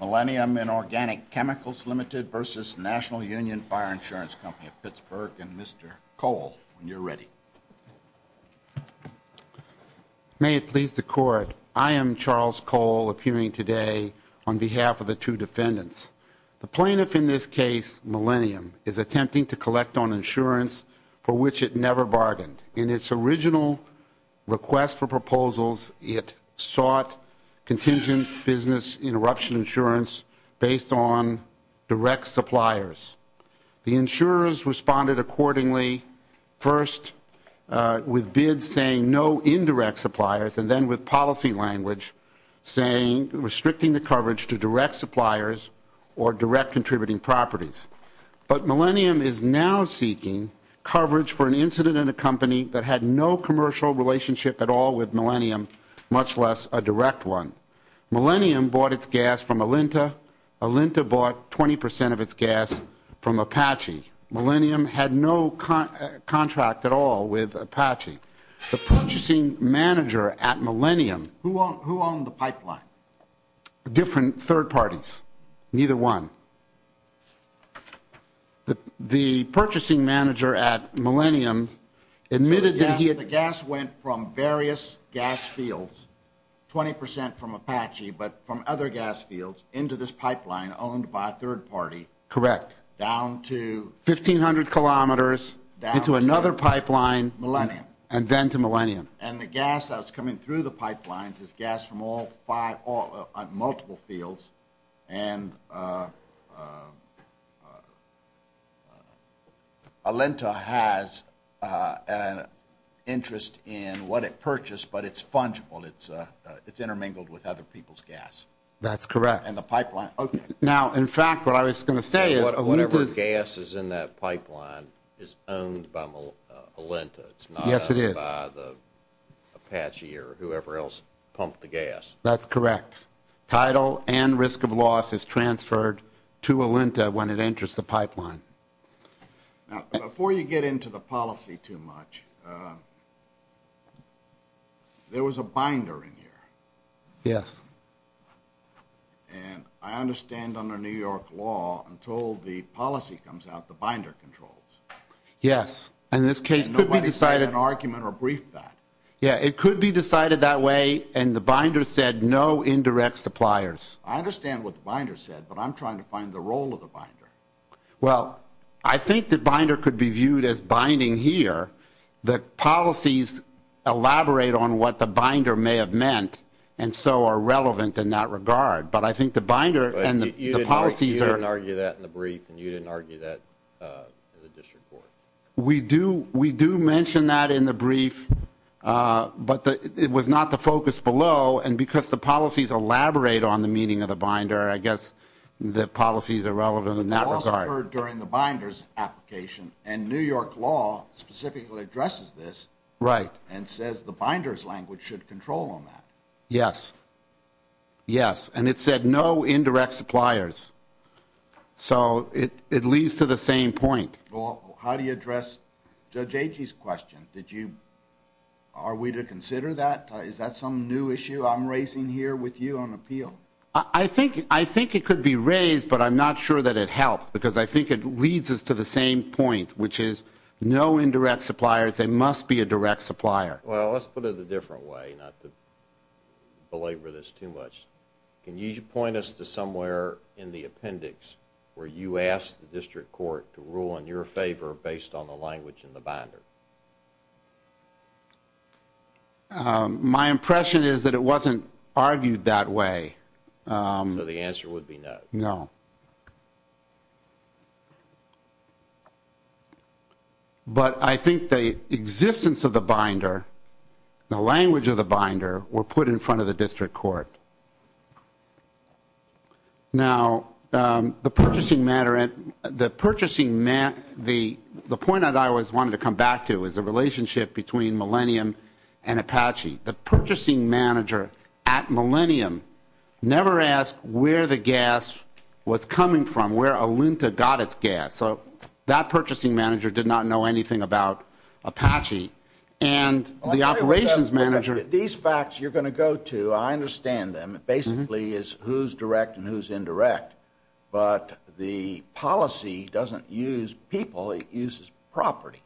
Millennium Inorganic Chemicals Limited v. National Union Fire Insurance Company of Pittsburgh and Mr. Cole, when you're ready. May it please the Court, I am Charles Cole appearing today on behalf of the two defendants. The plaintiff in this case, Millennium, is attempting to collect on insurance for which it never bargained. In its original request for proposals, it sought contingent business interruption insurance based on direct suppliers. The insurers responded accordingly, first with bids saying no indirect suppliers and then with policy language saying restricting the coverage to direct suppliers or direct contributing properties. But Millennium is now seeking coverage for an incident in a company that had no commercial relationship at all with Millennium, much less a direct one. Millennium bought its gas from Alinta. Alinta bought 20% of its gas from Apache. Millennium had no contract at all with Apache. The purchasing manager at Millennium- Who owned the pipeline? Different third parties, neither one. The purchasing manager at Millennium admitted that he had- The gas went from various gas fields, 20% from Apache, but from other gas fields into this pipeline owned by a third party- Correct. Down to- 1,500 kilometers into another pipeline- Millennium. And then to Millennium. And the gas that was coming through the pipelines is gas from multiple fields and Alinta has an interest in what it purchased, but it's fungible, it's intermingled with other people's gas. That's correct. And the pipeline- Okay. Now, in fact, what I was going to say is- Whatever gas is in that pipeline is owned by Alinta. Yes, it is. It's not owned by the Apache or whoever else pumped the gas. That's correct. Tidal and risk of loss is transferred to Alinta when it enters the pipeline. Now, before you get into the policy too much, there was a binder in here. Yes. And I understand under New York law, until the policy comes out, the binder controls. Yes. And this case could be decided- And nobody made an argument or briefed that. Yes. It could be decided that way and the binder said no indirect suppliers. I understand what the binder said, but I'm trying to find the role of the binder. Well, I think the binder could be viewed as binding here. The policies elaborate on what the binder may have meant and so are relevant in that regard. But I think the binder and the policies are- But you didn't argue that in the brief and you didn't argue that in the district court. We do mention that in the brief, but it was not the focus below. And because the policies elaborate on the meaning of the binder, I guess the policies are relevant in that regard. The law occurred during the binder's application and New York law specifically addresses this and says the binder's language should control on that. Yes. Yes. And it said no indirect suppliers. So it leads to the same point. How do you address Judge Agee's question? Are we to consider that? Is that some new issue I'm raising here with you on appeal? I think it could be raised, but I'm not sure that it helps because I think it leads us to the same point, which is no indirect suppliers, there must be a direct supplier. Well, let's put it a different way, not to belabor this too much. Can you point us to somewhere in the appendix where you asked the district court to rule in your favor based on the language in the binder? My impression is that it wasn't argued that way. So the answer would be no. No. But I think the existence of the binder, the language of the binder, were put in front of the district court. Now, the purchasing matter, the purchasing matter, the point that I was wanting to come back to is the relationship between Millennium and Apache. The purchasing manager at Millennium never asked where the gas was coming from, where Olinta got its gas. So that purchasing manager did not know anything about Apache. These facts you're going to go to, I understand them, it basically is who's direct and who's indirect, but the policy doesn't use people, it uses property.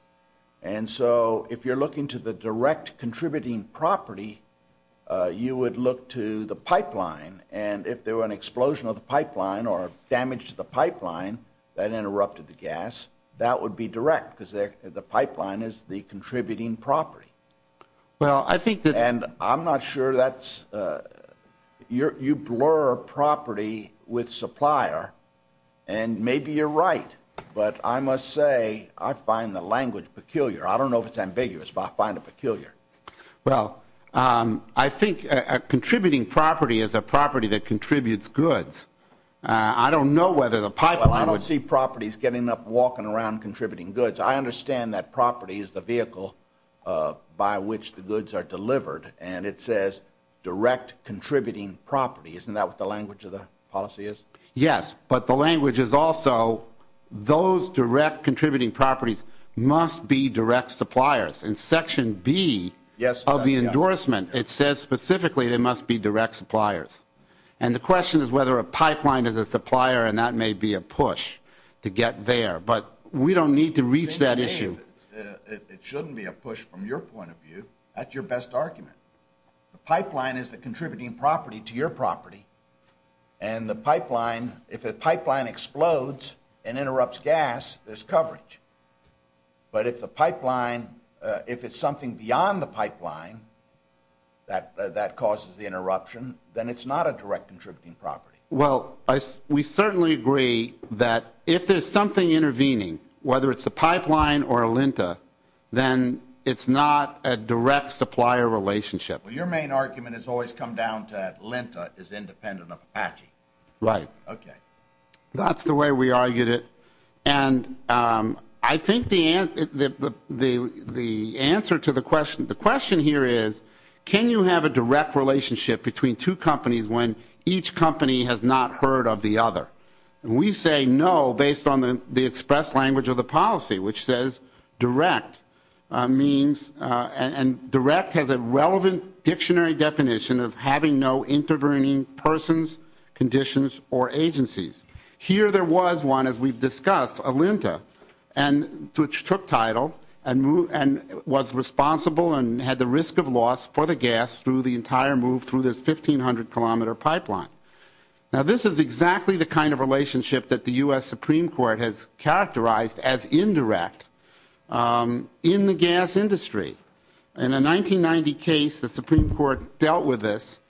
And so if you're looking to the direct contributing property, you would look to the pipeline, and if there were an explosion of the pipeline or damage to the pipeline that interrupted the gas, that would be direct because the pipeline is the contributing property. And I'm not sure that's, you blur property with supplier, and maybe you're right, but I must say, I find the language peculiar. I don't know if it's ambiguous, but I find it peculiar. Well, I think a contributing property is a property that contributes goods. I don't know whether the pipeline would... Well, I don't see properties getting up and walking around contributing goods. I understand that property is the vehicle by which the goods are delivered, and it says direct contributing property. Isn't that what the language of the policy is? Yes, but the language is also those direct contributing properties must be direct suppliers. In Section B of the endorsement, it says specifically they must be direct suppliers. And the question is whether a pipeline is a supplier, and that may be a push to get there, but we don't need to reach that issue. It shouldn't be a push from your point of view. That's your best argument. The pipeline is the contributing property to your property, and the pipeline, if a pipeline explodes and interrupts gas, there's coverage. But if the pipeline, if it's something beyond the pipeline that causes the interruption, then it's not a direct contributing property. Well, we certainly agree that if there's something intervening, whether it's a pipeline or a Lenta, then it's not a direct supplier relationship. Your main argument has always come down to that Lenta is independent of Apache. Right. Okay. That's the way we argued it. And I think the answer to the question, the question here is, can you have a direct relationship between two companies when each company has not heard of the other? We say no based on the express language of the policy, which says direct means, and direct has a relevant dictionary definition of having no intervening persons, conditions, or agencies. Here there was one, as we've discussed, a Lenta, which took title and was responsible and had the risk of loss for the gas through the entire move through this 1,500-kilometer pipeline. Now, this is exactly the kind of relationship that the U.S. Supreme Court has characterized as indirect in the gas industry. In a 1990 case, the Supreme Court dealt with this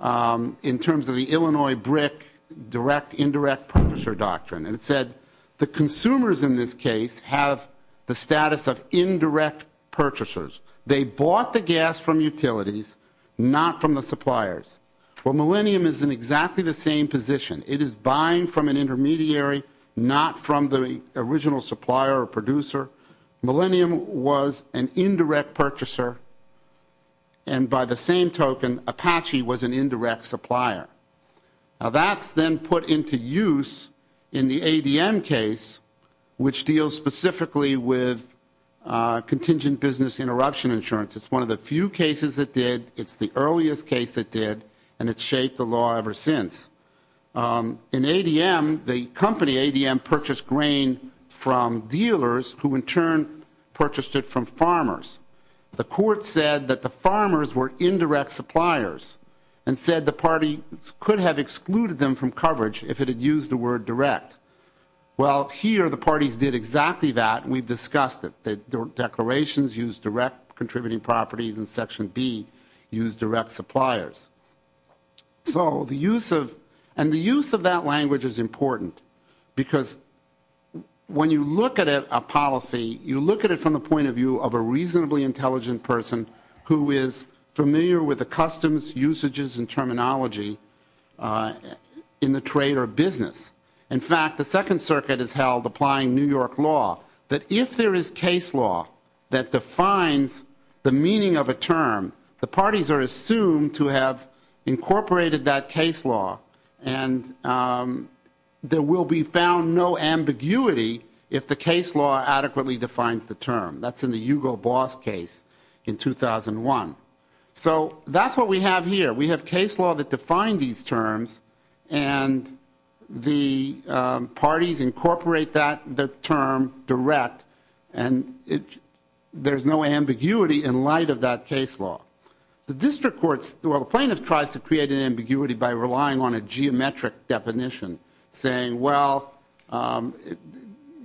in terms of the Illinois BRIC, direct indirect purchaser doctrine. And it said the consumers in this case have the status of indirect purchasers. They bought the gas from utilities, not from the suppliers. Well, Millennium is in exactly the same position. It is buying from an intermediary, not from the original supplier or producer. Millennium was an indirect purchaser, and by the same token, Apache was an indirect supplier. Now, that's then put into use in the ADM case, which deals specifically with contingent business interruption insurance. It's one of the few cases that did. It's the earliest case that did, and it's shaped the law ever since. In ADM, the company ADM purchased grain from dealers who in turn purchased it from farmers. The court said that the farmers were indirect suppliers and said the parties could have excluded them from coverage if it had used the word direct. Well, here the parties did exactly that. We've discussed it. The declarations use direct contributing properties, and Section B used direct suppliers. So the use of that language is important because when you look at a policy, you look at it from the point of view of a reasonably intelligent person who is familiar with the customs, usages, and terminology in the trade or business. In fact, the Second Circuit has held applying New York law that if there is case law that defines the meaning of a term, the parties are assumed to have incorporated that case law, and there will be found no ambiguity if the case law adequately defines the term. That's in the Hugo Boss case in 2001. So that's what we have here. We have case law that define these terms, and the parties incorporate that term direct, and there's no ambiguity in light of that case law. The district courts, well, the plaintiff tries to create an ambiguity by relying on a geometric definition, saying, well,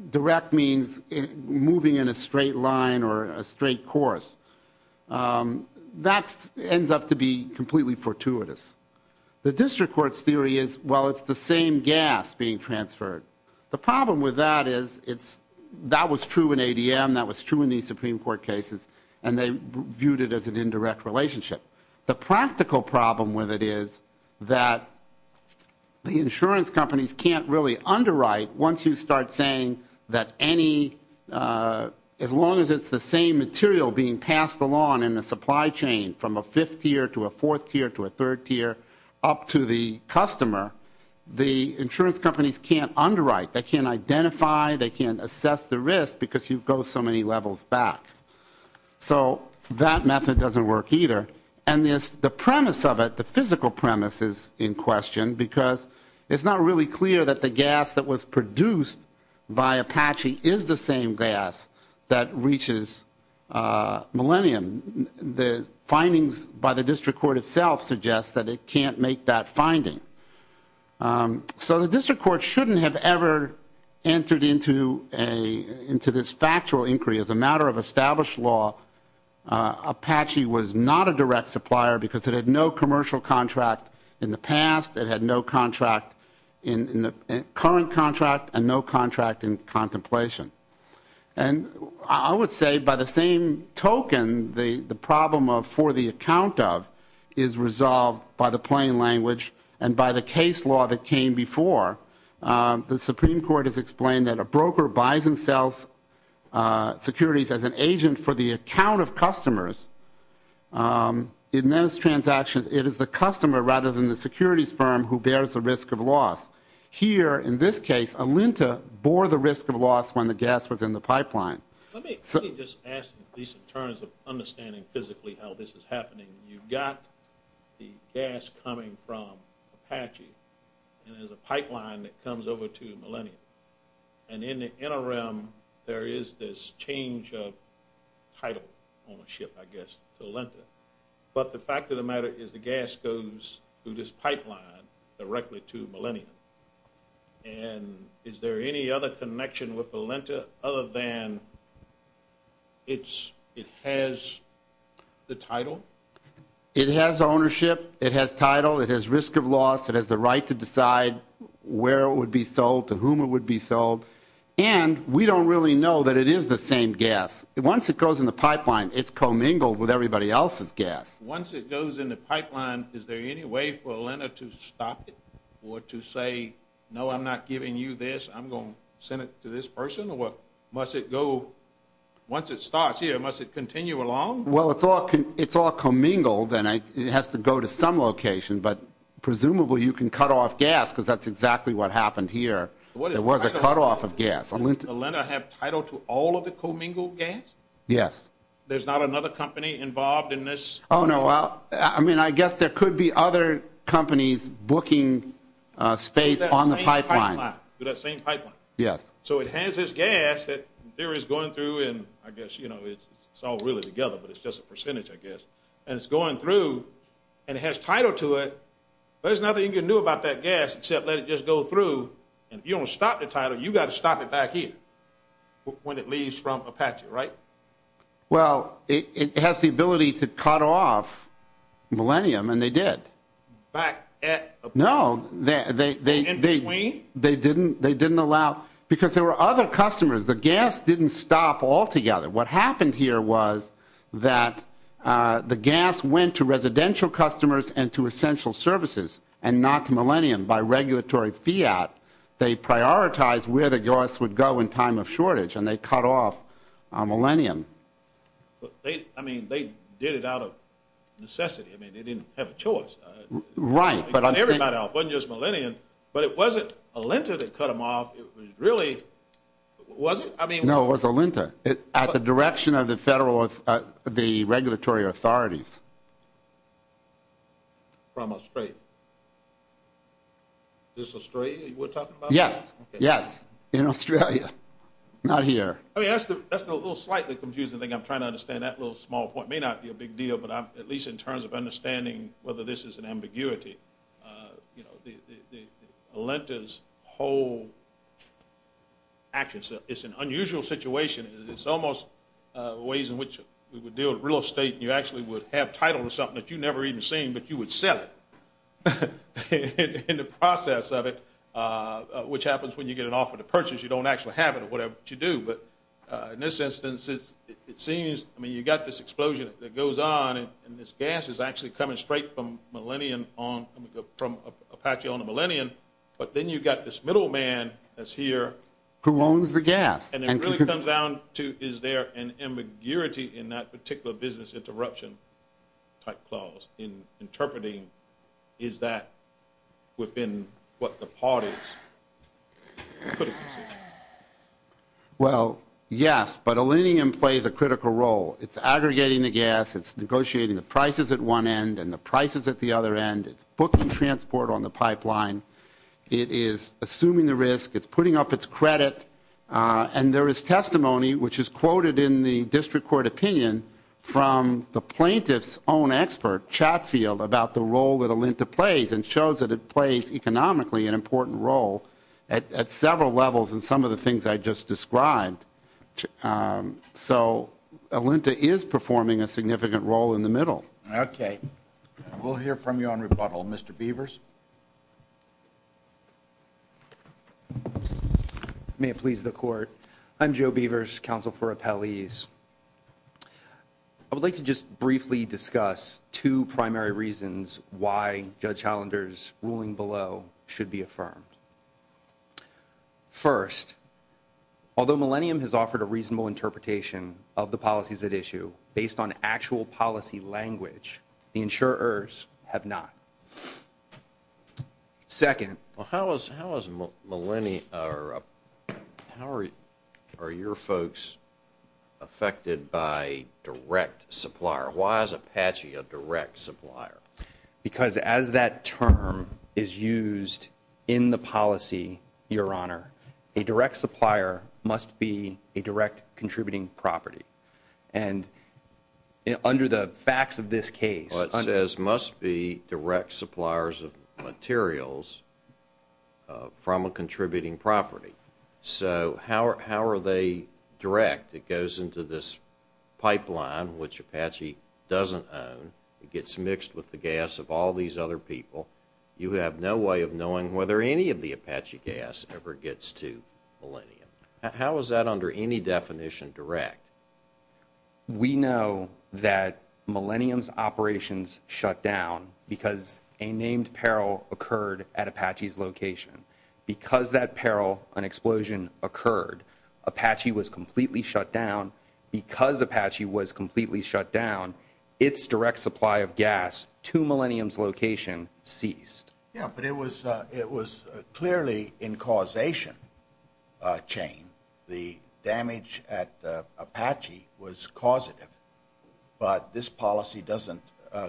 direct means moving in a straight line or a straight course. That ends up to be completely fortuitous. The district court's theory is, well, it's the same gas being transferred. The problem with that is that was true in ADM, that was true in these Supreme Court cases, and they viewed it as an indirect relationship. The practical problem with it is that the insurance companies can't really underwrite once you start saying that any, as long as it's the same material being passed along in the supply chain from a fifth tier to a fourth tier to a third tier up to the customer, the insurance companies can't underwrite. They can't identify, they can't assess the risk because you go so many levels back. So that method doesn't work either, and the premise of it, the physical premise is in question because it's not really clear that the gas that was produced by Apache is the same gas that reaches Millennium. The findings by the district court itself suggest that it can't make that finding. So the district court shouldn't have ever entered into this factual inquiry. As a matter of established law, Apache was not a direct supplier because it had no commercial contract in the past, it had no contract in the current contract, and no contract in contemplation. And I would say by the same token, the problem of for the account of is resolved by the plain language and by the case law that came before. The Supreme Court has explained that a broker buys and sells securities as an agent for the account of customers in those transactions. It is the customer rather than the securities firm who bears the risk of loss. Here, in this case, Alinta bore the risk of loss when the gas was in the pipeline. Let me just ask in terms of understanding physically how this is happening. You've got the gas coming from Apache, and there's a pipeline that comes over to Millennium. And in the interim, there is this change of title ownership, I guess, to Alinta. But the fact of the matter is the gas goes through this pipeline directly to Millennium. And is there any other connection with Alinta other than it has the title? It has ownership, it has title, it has risk of loss, it has the right to decide where it would be sold, to whom it would be sold. And we don't really know that it is the same gas. Once it goes in the pipeline, it's commingled with everybody else's gas. Once it goes in the pipeline, is there any way for Alinta to stop it or to say, no, I'm not giving you this, I'm going to send it to this person? Or must it go, once it starts here, must it continue along? Well, it's all commingled, and it has to go to some location. Presumably, you can cut off gas, because that's exactly what happened here. There was a cutoff of gas. Does Alinta have title to all of the commingled gas? Yes. There's not another company involved in this? Oh, no. Well, I mean, I guess there could be other companies booking space on the pipeline. To that same pipeline? Yes. So it has this gas that there is going through, and I guess it's all really together, but it's just a percentage, I guess. And it's going through, and it has title to it. There's nothing you can do about that gas except let it just go through, and if you don't stop the title, you've got to stop it back here when it leaves from Apache, right? Well, it has the ability to cut off Millennium, and they did. Back at Apache? No, they didn't allow, because there were other customers. The gas didn't stop altogether. What happened here was that the gas went to residential customers and to essential services and not to Millennium by regulatory fiat. They prioritized where the gas would go in time of shortage, and they cut off Millennium. I mean, they did it out of necessity. I mean, they didn't have a choice. Right. They cut everybody off. It wasn't just Millennium, but it wasn't Alinta that cut them off. It was really, was it? No, it was Alinta at the direction of the regulatory authorities. From Australia? This Australia you were talking about? Yes, yes, in Australia, not here. I mean, that's the little slightly confusing thing. I'm trying to understand that little small point. It may not be a big deal, but at least in terms of understanding whether this is an ambiguity, you know, Alinta's whole actions, it's an unusual situation. It's almost ways in which we would deal with real estate. You actually would have title to something that you never even seen, but you would sell it in the process of it, which happens when you get an offer to purchase. You don't actually have it or whatever to do. But in this instance, it seems, I mean, you got this explosion that goes on, and this gas is actually coming straight from Apache on the Millennium, but then you've got this middleman that's here. Who owns the gas. And it really comes down to, is there an ambiguity in that particular business interruption type clause in interpreting? Is that within what the parties? Well, yes, but Alinium plays a critical role. It's aggregating the gas. It's negotiating the prices at one end and the prices at the other end. It's booking transport on the pipeline. It is assuming the risk. It's putting up its credit. And there is testimony, which is quoted in the district court opinion from the plaintiff's own expert, Chatfield, about the role that Alinta plays and shows that it plays economically an important role at several levels in some of the things I just described. Um, so Alinta is performing a significant role in the middle. Okay. We'll hear from you on rebuttal. Mr. Beavers. May it please the court. I'm Joe Beavers, counsel for appellees. I would like to just briefly discuss two primary reasons why Judge Highlander's ruling below should be affirmed. First, although Millennium has offered a reasonable interpretation of the policies at issue based on actual policy language, the insurers have not. Second. Well, how is how is millennia or how are your folks affected by direct supplier? Why is Apache a direct supplier? Because as that term is used in the policy, Your Honor, a direct supplier must be a direct contributing property. And under the facts of this case. Well, it says must be direct suppliers of materials from a contributing property. So how are how are they direct? It goes into this pipeline, which Apache doesn't own. It gets mixed with the gas of all these other people. You have no way of knowing whether any of the Apache gas ever gets to Millennium. How is that under any definition direct? We know that Millennium's operations shut down because a named peril occurred at Apache's location. Because that peril, an explosion occurred. Apache was completely shut down because Apache was completely shut down. Its direct supply of gas to Millennium's location ceased. Yeah, but it was it was clearly in causation chain. The damage at Apache was causative. But this policy doesn't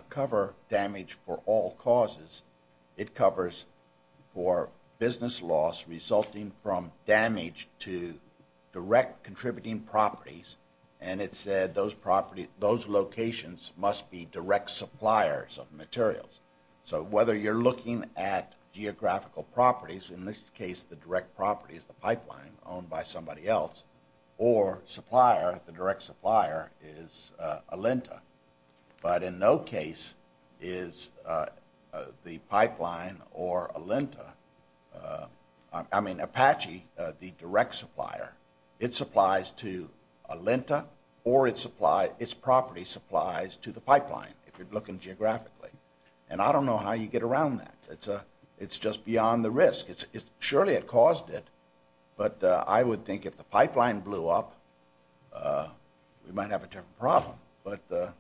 cover damage for all causes. It covers for business loss resulting from damage to direct contributing properties. And it said those property those locations must be direct suppliers of materials. So whether you're looking at geographical properties, in this case, the direct property is the pipeline owned by somebody else or supplier, the direct supplier is Alinta. But in no case is the pipeline or Alinta, I mean, Apache, the direct supplier. It supplies to Alinta or its supply, its property supplies to the pipeline, if you're looking geographically. And I don't know how you get around that. It's a it's just beyond the risk. It's surely it caused it. But I would think if the pipeline blew up, we might have a different problem. But the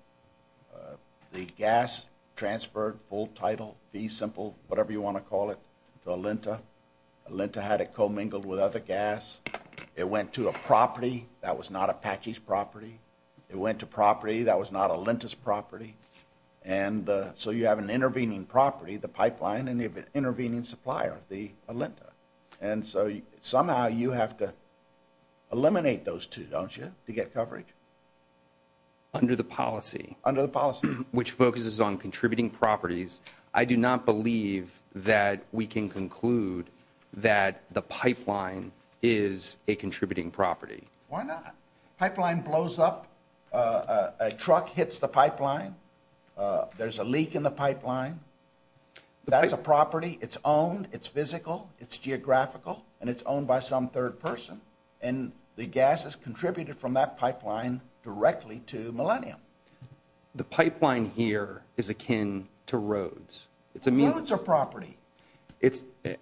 gas transferred full title, fee simple, whatever you want to call it, to Alinta. Alinta had it commingled with other gas. It went to a property that was not Apache's property. It went to property that was not Alinta's property. And so you have an intervening property, the pipeline, and you have an intervening supplier, the Alinta. And so somehow you have to eliminate those two, don't you, to get coverage? Under the policy. Under the policy. Which focuses on contributing properties. I do not believe that we can conclude that the pipeline is a contributing property. Why not? Pipeline blows up. A truck hits the pipeline. There's a leak in the pipeline. That's a property. It's owned. It's physical. It's geographical. And it's owned by some third person. And the gas is contributed from that pipeline directly to Millennium. The pipeline here is akin to roads. Roads are property.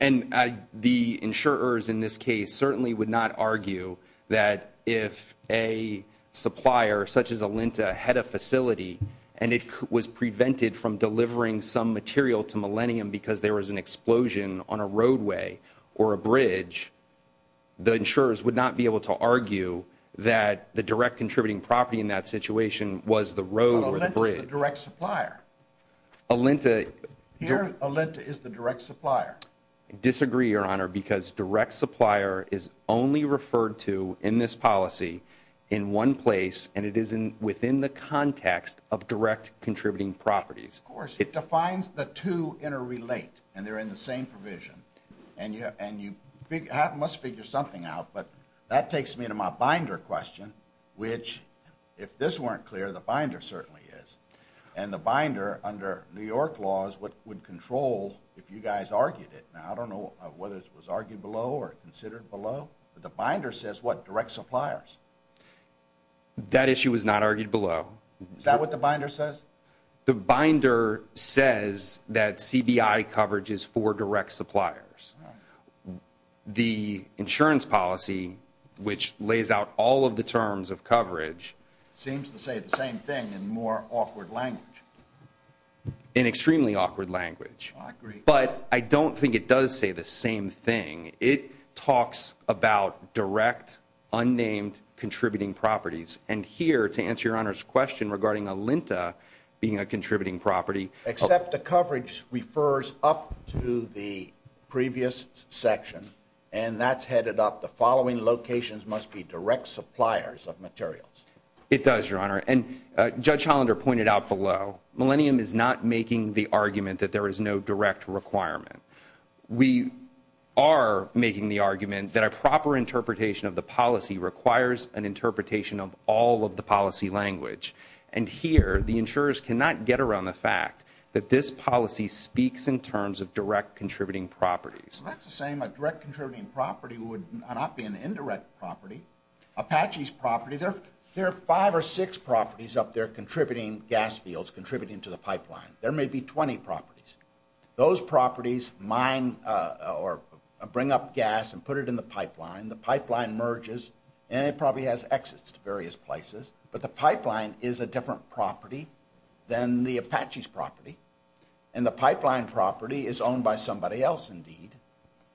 And the insurers in this case certainly would not argue that if a supplier such as Alinta had a facility, and it was prevented from delivering some material to Millennium because there was an explosion on a roadway or a bridge, the insurers would not be able to argue that the direct contributing property in that situation was the road or the bridge. But Alinta is the direct supplier. Here, Alinta is the direct supplier. Disagree, Your Honor, because direct supplier is only referred to in this policy in one place, and it is within the context of direct contributing properties. Of course. It defines the two interrelate. And they're in the same provision. And you must figure something out. But that takes me to my binder question, which, if this weren't clear, the binder certainly is. And the binder, under New York laws, would control if you guys argued it. Now, I don't know whether it was argued below or considered below. But the binder says what? Direct suppliers. That issue was not argued below. Is that what the binder says? The binder says that CBI coverage is for direct suppliers. The insurance policy, which lays out all of the terms of coverage, seems to say the same thing in more awkward language. In extremely awkward language. I agree. But I don't think it does say the same thing. It talks about direct, unnamed, contributing properties. And here, to answer Your Honor's question regarding Alinta being a contributing property. Except the coverage refers up to the previous section. And that's headed up. The following locations must be direct suppliers of materials. It does, Your Honor. And Judge Hollander pointed out below. Millennium is not making the argument that there is no direct requirement. We are making the argument that a proper interpretation of the policy requires an interpretation of all of the policy language. And here, the insurers cannot get around the fact that this policy speaks in terms of direct contributing properties. That's the same. A direct contributing property would not be an indirect property. Apache's property. There are five or six properties up there contributing gas fields, contributing to the pipeline. There may be 20 properties. Those properties mine or bring up gas and put it in the pipeline. The pipeline merges. And it probably has exits to various places. But the pipeline is a different property than the Apache's property. And the pipeline property is owned by somebody else, indeed.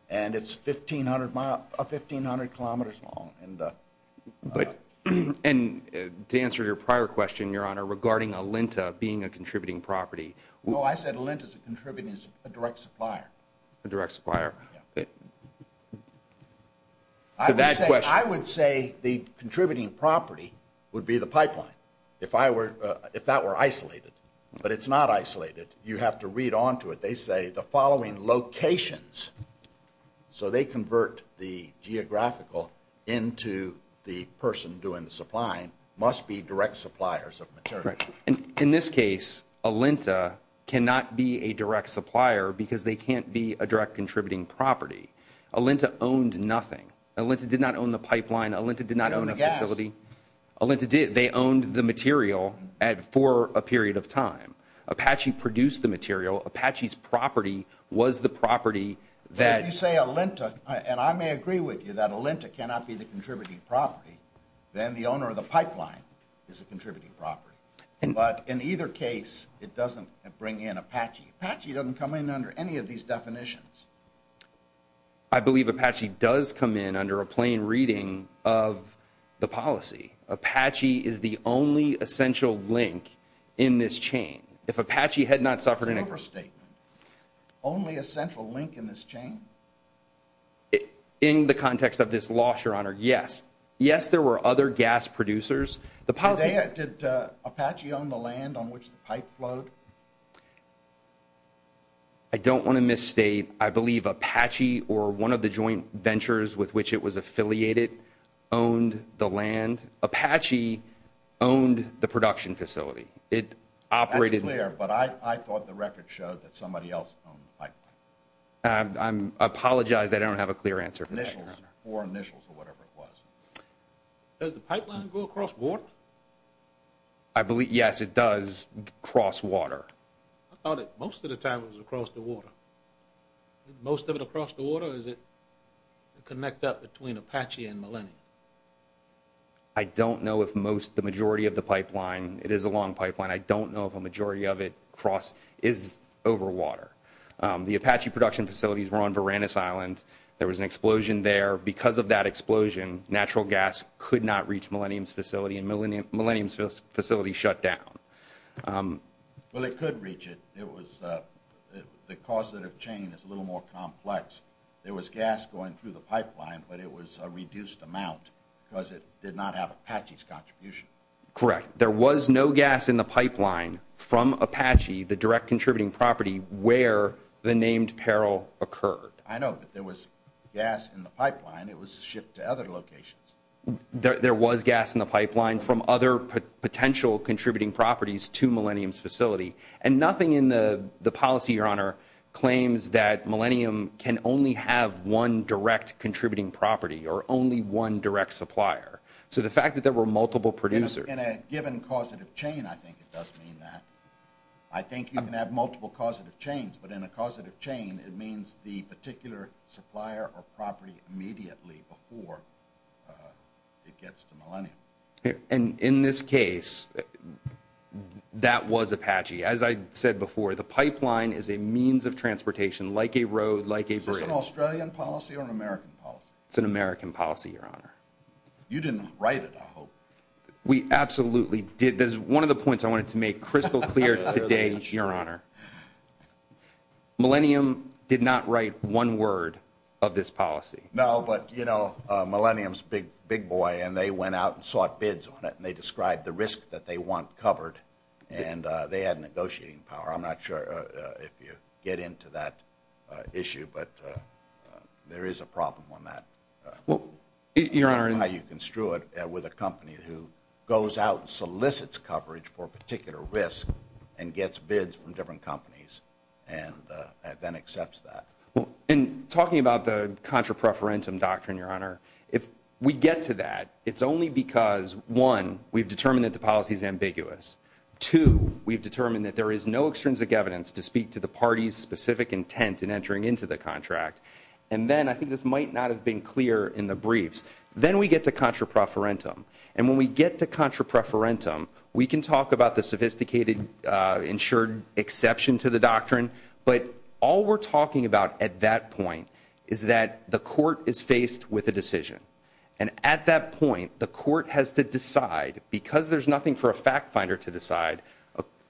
And it's 1,500 kilometers long. And to answer your prior question, Your Honor, regarding Alinta being a contributing property. Well, I said Alinta is a direct supplier. A direct supplier. To that question. I would say the contributing property would be the pipeline. If that were isolated. But it's not isolated. You have to read on to it. They say the following locations, so they convert the geographical into the person doing the supplying, must be direct suppliers of material. Correct. And in this case, Alinta cannot be a direct supplier because they can't be a direct contributing property. Alinta owned nothing. Alinta did not own the pipeline. Alinta did not own the facility. Alinta did. They owned the material for a period of time. Apache produced the material. Apache's property was the property that. If you say Alinta, and I may agree with you that Alinta cannot be the contributing property, then the owner of the pipeline is a contributing property. But in either case, it doesn't bring in Apache. Apache doesn't come in under any of these definitions. I believe Apache does come in under a plain reading of the policy. Apache is the only essential link in this chain. If Apache had not suffered. It's an overstatement. Only a central link in this chain. In the context of this loss, your honor. Yes. Yes, there were other gas producers. Did Apache own the land on which the pipe flowed? I don't want to misstate. I believe Apache or one of the joint ventures with which it was affiliated owned the land. Apache owned the production facility. It operated. That's clear. But I thought the record showed that somebody else owned the pipeline. I apologize. I don't have a clear answer for that, your honor. Or initials or whatever it was. Does the pipeline go across water? I believe, yes, it does cross water. I thought it most of the time was across the water. Most of it across the water? Or does it connect up between Apache and Millennium? I don't know if most the majority of the pipeline. It is a long pipeline. I don't know if a majority of it cross is over water. The Apache production facilities were on Varanus Island. There was an explosion there. Because of that explosion, natural gas could not reach Millennium's facility. And Millennium's facility shut down. Well, it could reach it. It was the cost of the chain is a little more complex. There was gas going through the pipeline. But it was a reduced amount because it did not have Apache's contribution. Correct. There was no gas in the pipeline from Apache, the direct contributing property, where the named peril occurred. I know. But there was gas in the pipeline. It was shipped to other locations. There was gas in the pipeline from other potential contributing properties to Millennium's facility. And nothing in the policy, Your Honor, claims that Millennium can only have one direct contributing property or only one direct supplier. So the fact that there were multiple producers. In a given causative chain, I think it does mean that. I think you can have multiple causative chains. But in a causative chain, it means the particular supplier or property immediately before it gets to Millennium. And in this case, that was Apache. As I said before, the pipeline is a means of transportation like a road, like a bridge. Is this an Australian policy or an American policy? It's an American policy, Your Honor. You didn't write it, I hope. We absolutely did. That is one of the points I wanted to make crystal clear today, Your Honor. Millennium did not write one word of this policy. No, but, you know, Millennium's big, big boy. And they went out and sought bids on it. And they described the risk that they want covered. And they had negotiating power. I'm not sure if you get into that issue. But there is a problem on that. Well, Your Honor. How you construe it with a company who goes out and solicits coverage for a particular risk and gets bids from different companies and then accepts that. In talking about the contra preferentum doctrine, Your Honor, if we get to that, it's only because, one, we've determined that the policy is ambiguous. Two, we've determined that there is no extrinsic evidence to speak to the party's specific intent in entering into the contract. And then I think this might not have been clear in the briefs. Then we get to contra preferentum. And when we get to contra preferentum, we can talk about the sophisticated insured exception to the doctrine. But all we're talking about at that point is that the court is faced with a decision. And at that point, the court has to decide. Because there's nothing for a fact finder to decide,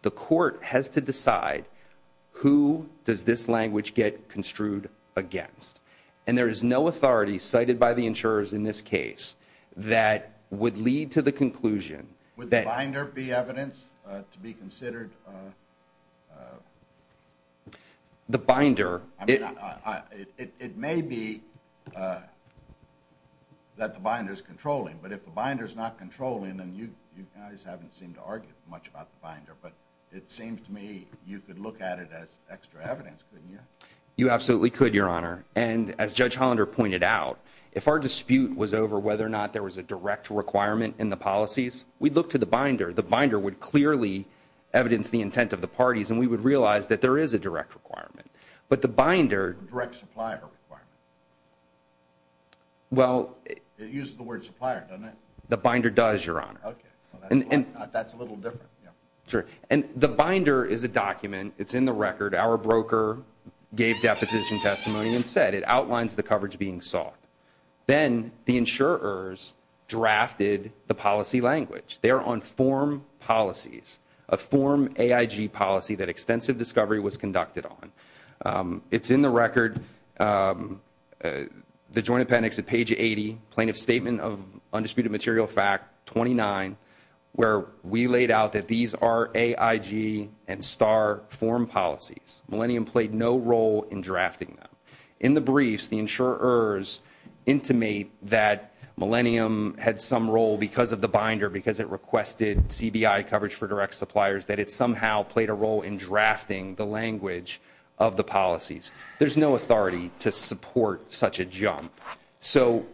the court has to decide who does this language get construed against. And there is no authority cited by the insurers in this case that would lead to the conclusion. Would the binder be evidence to be considered? The binder. It may be that the binder is controlling. But if the binder is not controlling, then you guys haven't seemed to argue much about the binder. But it seems to me you could look at it as extra evidence, couldn't you? You absolutely could, Your Honor. And as Judge Hollander pointed out, if our dispute was over whether or not there was a direct requirement in the policies, we'd look to the binder. The binder would clearly evidence the intent of the parties. And we would realize that there is a direct requirement. But the binder. Direct supplier requirement. Well. It uses the word supplier, doesn't it? The binder does, Your Honor. OK. That's a little different. And the binder is a document. It's in the record. Our broker gave deposition testimony and said it outlines the coverage being sought. Then the insurers drafted the policy language. They are on form policies. A form AIG policy that extensive discovery was conducted on. It's in the record. The Joint Appendix at page 80. Plaintiff's Statement of Undisputed Material Fact 29. Where we laid out that these are AIG and STAR form policies. Millennium played no role in drafting them. In the briefs, the insurers intimate that Millennium had some role because of the binder. Because it requested CBI coverage for direct suppliers. That it somehow played a role in drafting the language of the policies. There's no authority to support such a jump. So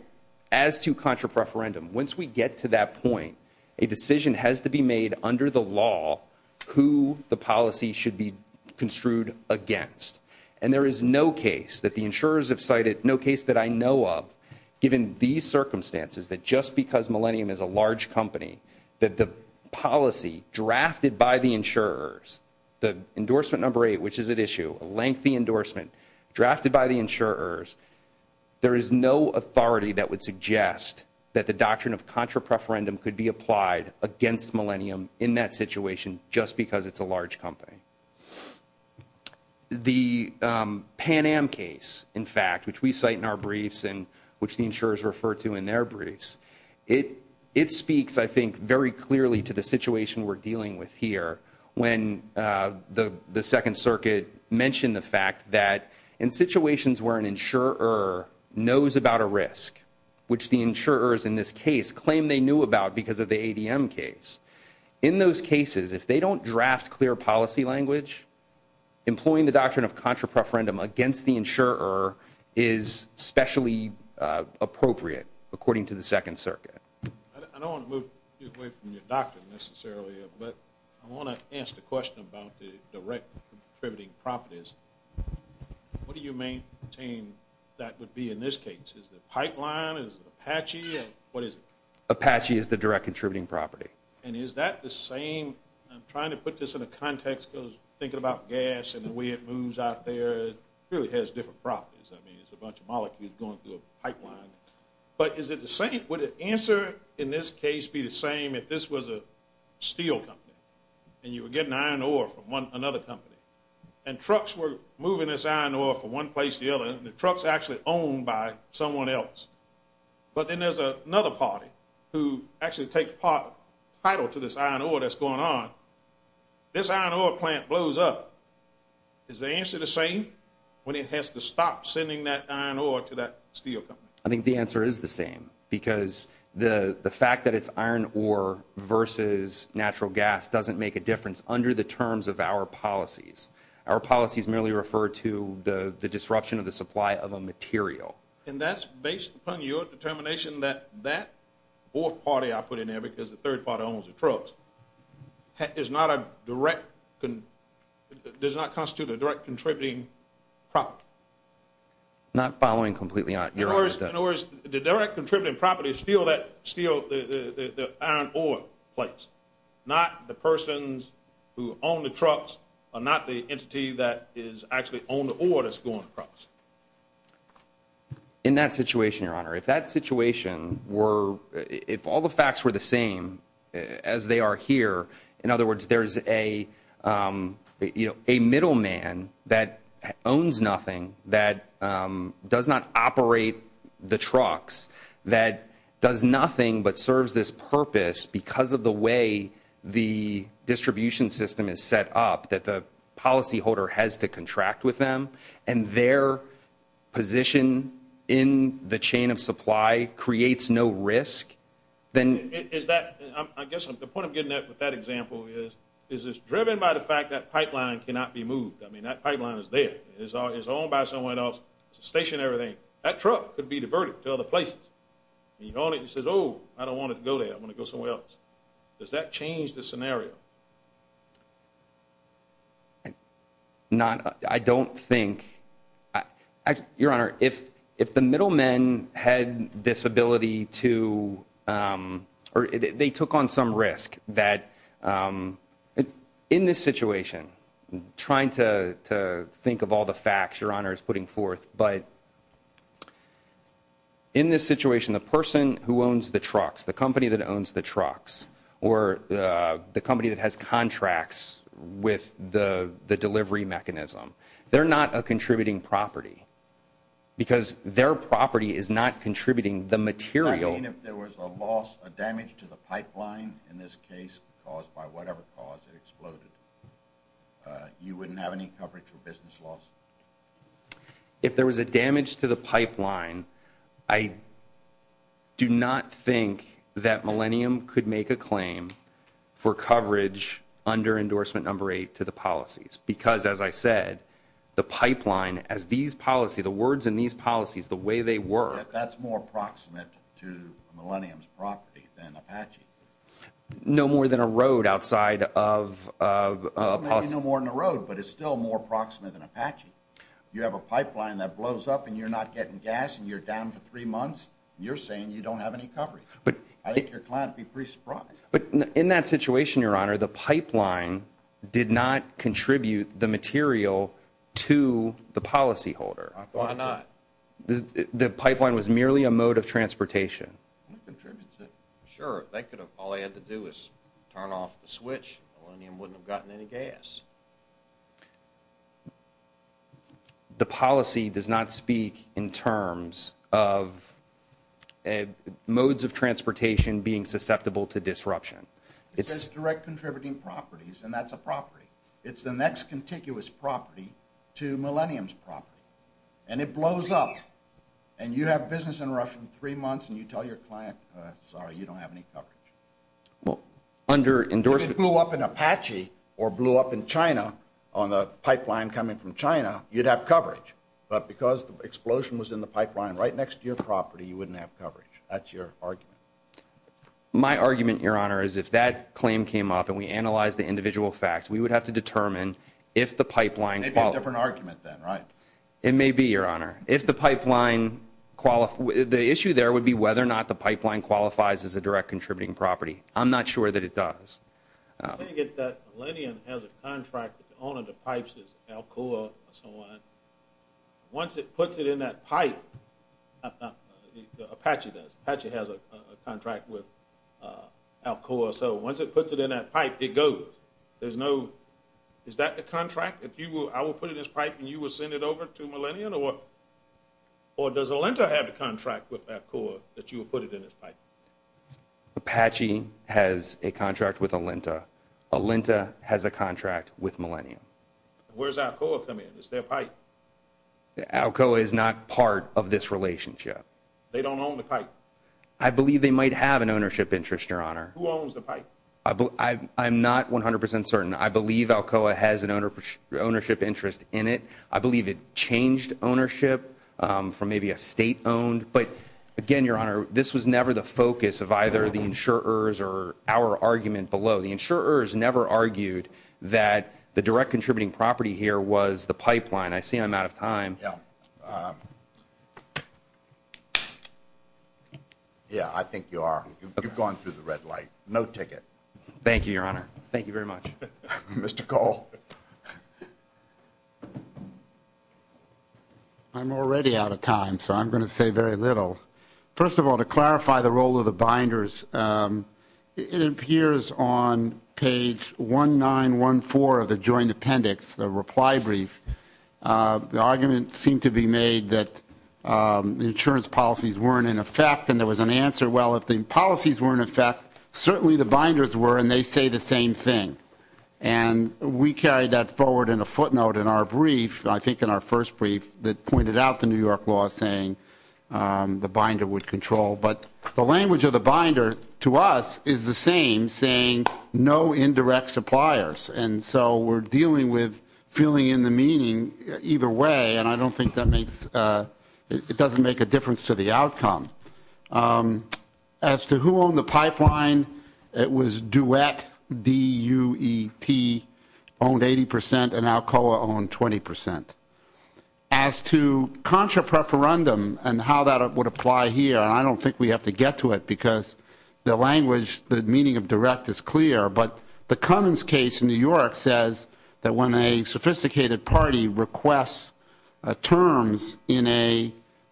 as to contra preferendum. Once we get to that point, a decision has to be made under the law. Who the policy should be construed against. And there is no case that the insurers have cited. No case that I know of given these circumstances. That just because Millennium is a large company. That the policy drafted by the insurers. The endorsement number eight, which is at issue. A lengthy endorsement drafted by the insurers. There is no authority that would suggest that the doctrine of contra preferendum could be applied against Millennium in that situation. Just because it's a large company. The Pan Am case, in fact, which we cite in our briefs. And which the insurers refer to in their briefs. It speaks, I think, very clearly to the situation we're dealing with here. When the Second Circuit mentioned the fact that in situations where an insurer knows about a risk. Which the insurers in this case claim they knew about because of the ADM case. In those cases, if they don't draft clear policy language. Employing the doctrine of contra preferendum against the insurer is specially appropriate. According to the Second Circuit. I don't want to move you away from your doctrine necessarily. But I want to ask the question about the direct contributing properties. What do you maintain that would be in this case? Is the pipeline? Is Apache? What is it? Apache is the direct contributing property. And is that the same? I'm trying to put this in a context because thinking about gas and the way it moves out there. It really has different properties. I mean, it's a bunch of molecules going through a pipeline. But is it the same? Would the answer in this case be the same if this was a steel company? And you were getting iron ore from another company. And trucks were moving this iron ore from one place to the other. And the truck's actually owned by someone else. But then there's another party who actually takes part title to this iron ore that's going on. This iron ore plant blows up. Is the answer the same when it has to stop sending that iron ore to that steel company? I think the answer is the same. Because the fact that it's iron ore versus natural gas doesn't make a difference under the terms of our policies. Our policies merely refer to the disruption of the supply of a material. And that's based upon your determination that that fourth party I put in there, because the third party owns the trucks, does not constitute a direct contributing property? Not following completely on your answer. In other words, the direct contributing property is still that iron ore place. Not the persons who own the trucks or not the entity that is actually on the ore that's going. In that situation, Your Honor, if that situation were, if all the facts were the same as they are here, in other words, there's a, you know, a middleman that owns nothing, that does not operate the trucks, that does nothing but serves this purpose because of the way the distribution system is set up, that the policyholder has to contract with them. And their position in the chain of supply creates no risk. Then is that, I guess the point I'm getting at with that example is, is it's driven by the fact that pipeline cannot be moved. I mean, that pipeline is there. It's owned by someone else. It's a stationary thing. That truck could be diverted to other places. And you go on it and you say, oh, I don't want it to go there. I want to go somewhere else. Does that change the scenario? Not, I don't think, Your Honor, if the middlemen had this ability to, or they took on some risk that, in this situation, trying to think of all the facts Your Honor is putting forth, but in this situation, the person who owns the trucks, the company that owns the trucks, or the company that has contracts with the delivery mechanism, they're not a contributing property because their property is not contributing the material. I mean, if there was a loss, a damage to the pipeline, in this case, caused by whatever cause, it exploded, you wouldn't have any coverage for business loss? If there was a damage to the pipeline, I do not think that Millennium could make a claim for coverage under endorsement number eight to the policies. Because, as I said, the pipeline, as these policy, the words in these policies, the way they work. That's more proximate to Millennium's property than Apache. No more than a road outside of a policy. No more than a road, but it's still more proximate than Apache. You have a pipeline that blows up, and you're not getting gas, and you're down for three months, and you're saying you don't have any coverage. I think your client would be pretty surprised. But in that situation, Your Honor, the pipeline did not contribute the material to the policy holder. Why not? The pipeline was merely a mode of transportation. Sure, they could have, all they had to do was turn off the switch, Millennium wouldn't have gotten any gas. The policy does not speak in terms of modes of transportation being susceptible to disruption. It's direct contributing properties, and that's a property. It's the next contiguous property to Millennium's property. And it blows up. And you have business interruption three months, and you tell your client, sorry, you don't have any coverage. Under endorsement. If it blew up in Apache or blew up in China, on the pipeline coming from China, you'd have coverage. But because the explosion was in the pipeline right next to your property, you wouldn't have coverage. That's your argument. My argument, Your Honor, is if that claim came up and we analyzed the individual facts, we would have to determine if the pipeline qualifies. It'd be a different argument then, right? It may be, Your Honor. If the pipeline qualifies, the issue there would be whether or not the pipeline qualifies as a direct contributing property. I'm not sure that it does. I think that Millennium has a contract with the owner of the pipes, Alcoa, or someone. Once it puts it in that pipe, Apache does. Apache has a contract with Alcoa. So once it puts it in that pipe, it goes. There's no, is that the contract? If you will, I will put it in this pipe, and you will send it over to Millennium, or does Alenta have a contract with Alcoa that you will put it in this pipe? Apache has a contract with Alenta. Alenta has a contract with Millennium. Where's Alcoa come in? Is there a pipe? Alcoa is not part of this relationship. They don't own the pipe. I believe they might have an ownership interest, Your Honor. Who owns the pipe? I'm not 100% certain. I believe Alcoa has an ownership interest in it. I believe it changed ownership from maybe a state-owned. But again, Your Honor, this was never the focus of either the insurers or our argument below. The insurers never argued that the direct contributing property here was the pipeline. I see I'm out of time. Yeah, I think you are. You've gone through the red light. No ticket. Thank you, Your Honor. Thank you very much. Mr. Cole. I'm already out of time, so I'm going to say very little. First of all, to clarify the role of the binders, it appears on page 1914 of the joint appendix, the reply brief. The argument seemed to be made that the insurance policies weren't in effect, and there was an answer. Well, if the policies were in effect, certainly the binders were, and they say the same thing. And we carried that forward in a footnote in our brief, I think in our first brief, that pointed out the New York law saying the binder would control. But the language of the binder to us is the same, saying no indirect suppliers. And so we're dealing with filling in the meaning either way. And I don't think that makes it doesn't make a difference to the outcome. As to who owned the pipeline, it was Duet, D-U-E-T, owned 80%, and Alcoa owned 20%. As to contra preferendum and how that would apply here, I don't think we have to get to it, because the language, the meaning of direct is clear. But the Cummins case in New York says that when a sophisticated party requests terms in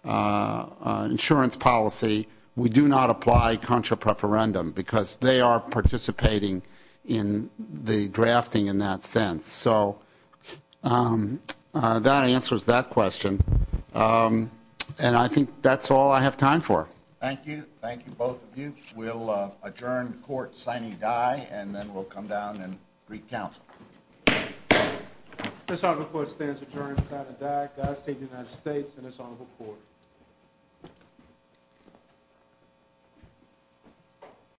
an insurance policy, we do not apply contra preferendum, because they are participating in the drafting in that sense. So that answers that question. And I think that's all I have time for. Thank you. Thank you, both of you. We'll adjourn the court signing die, and then we'll come down and recount. This honorable court stands adjourned on the signing of the die. God save the United States and this honorable court.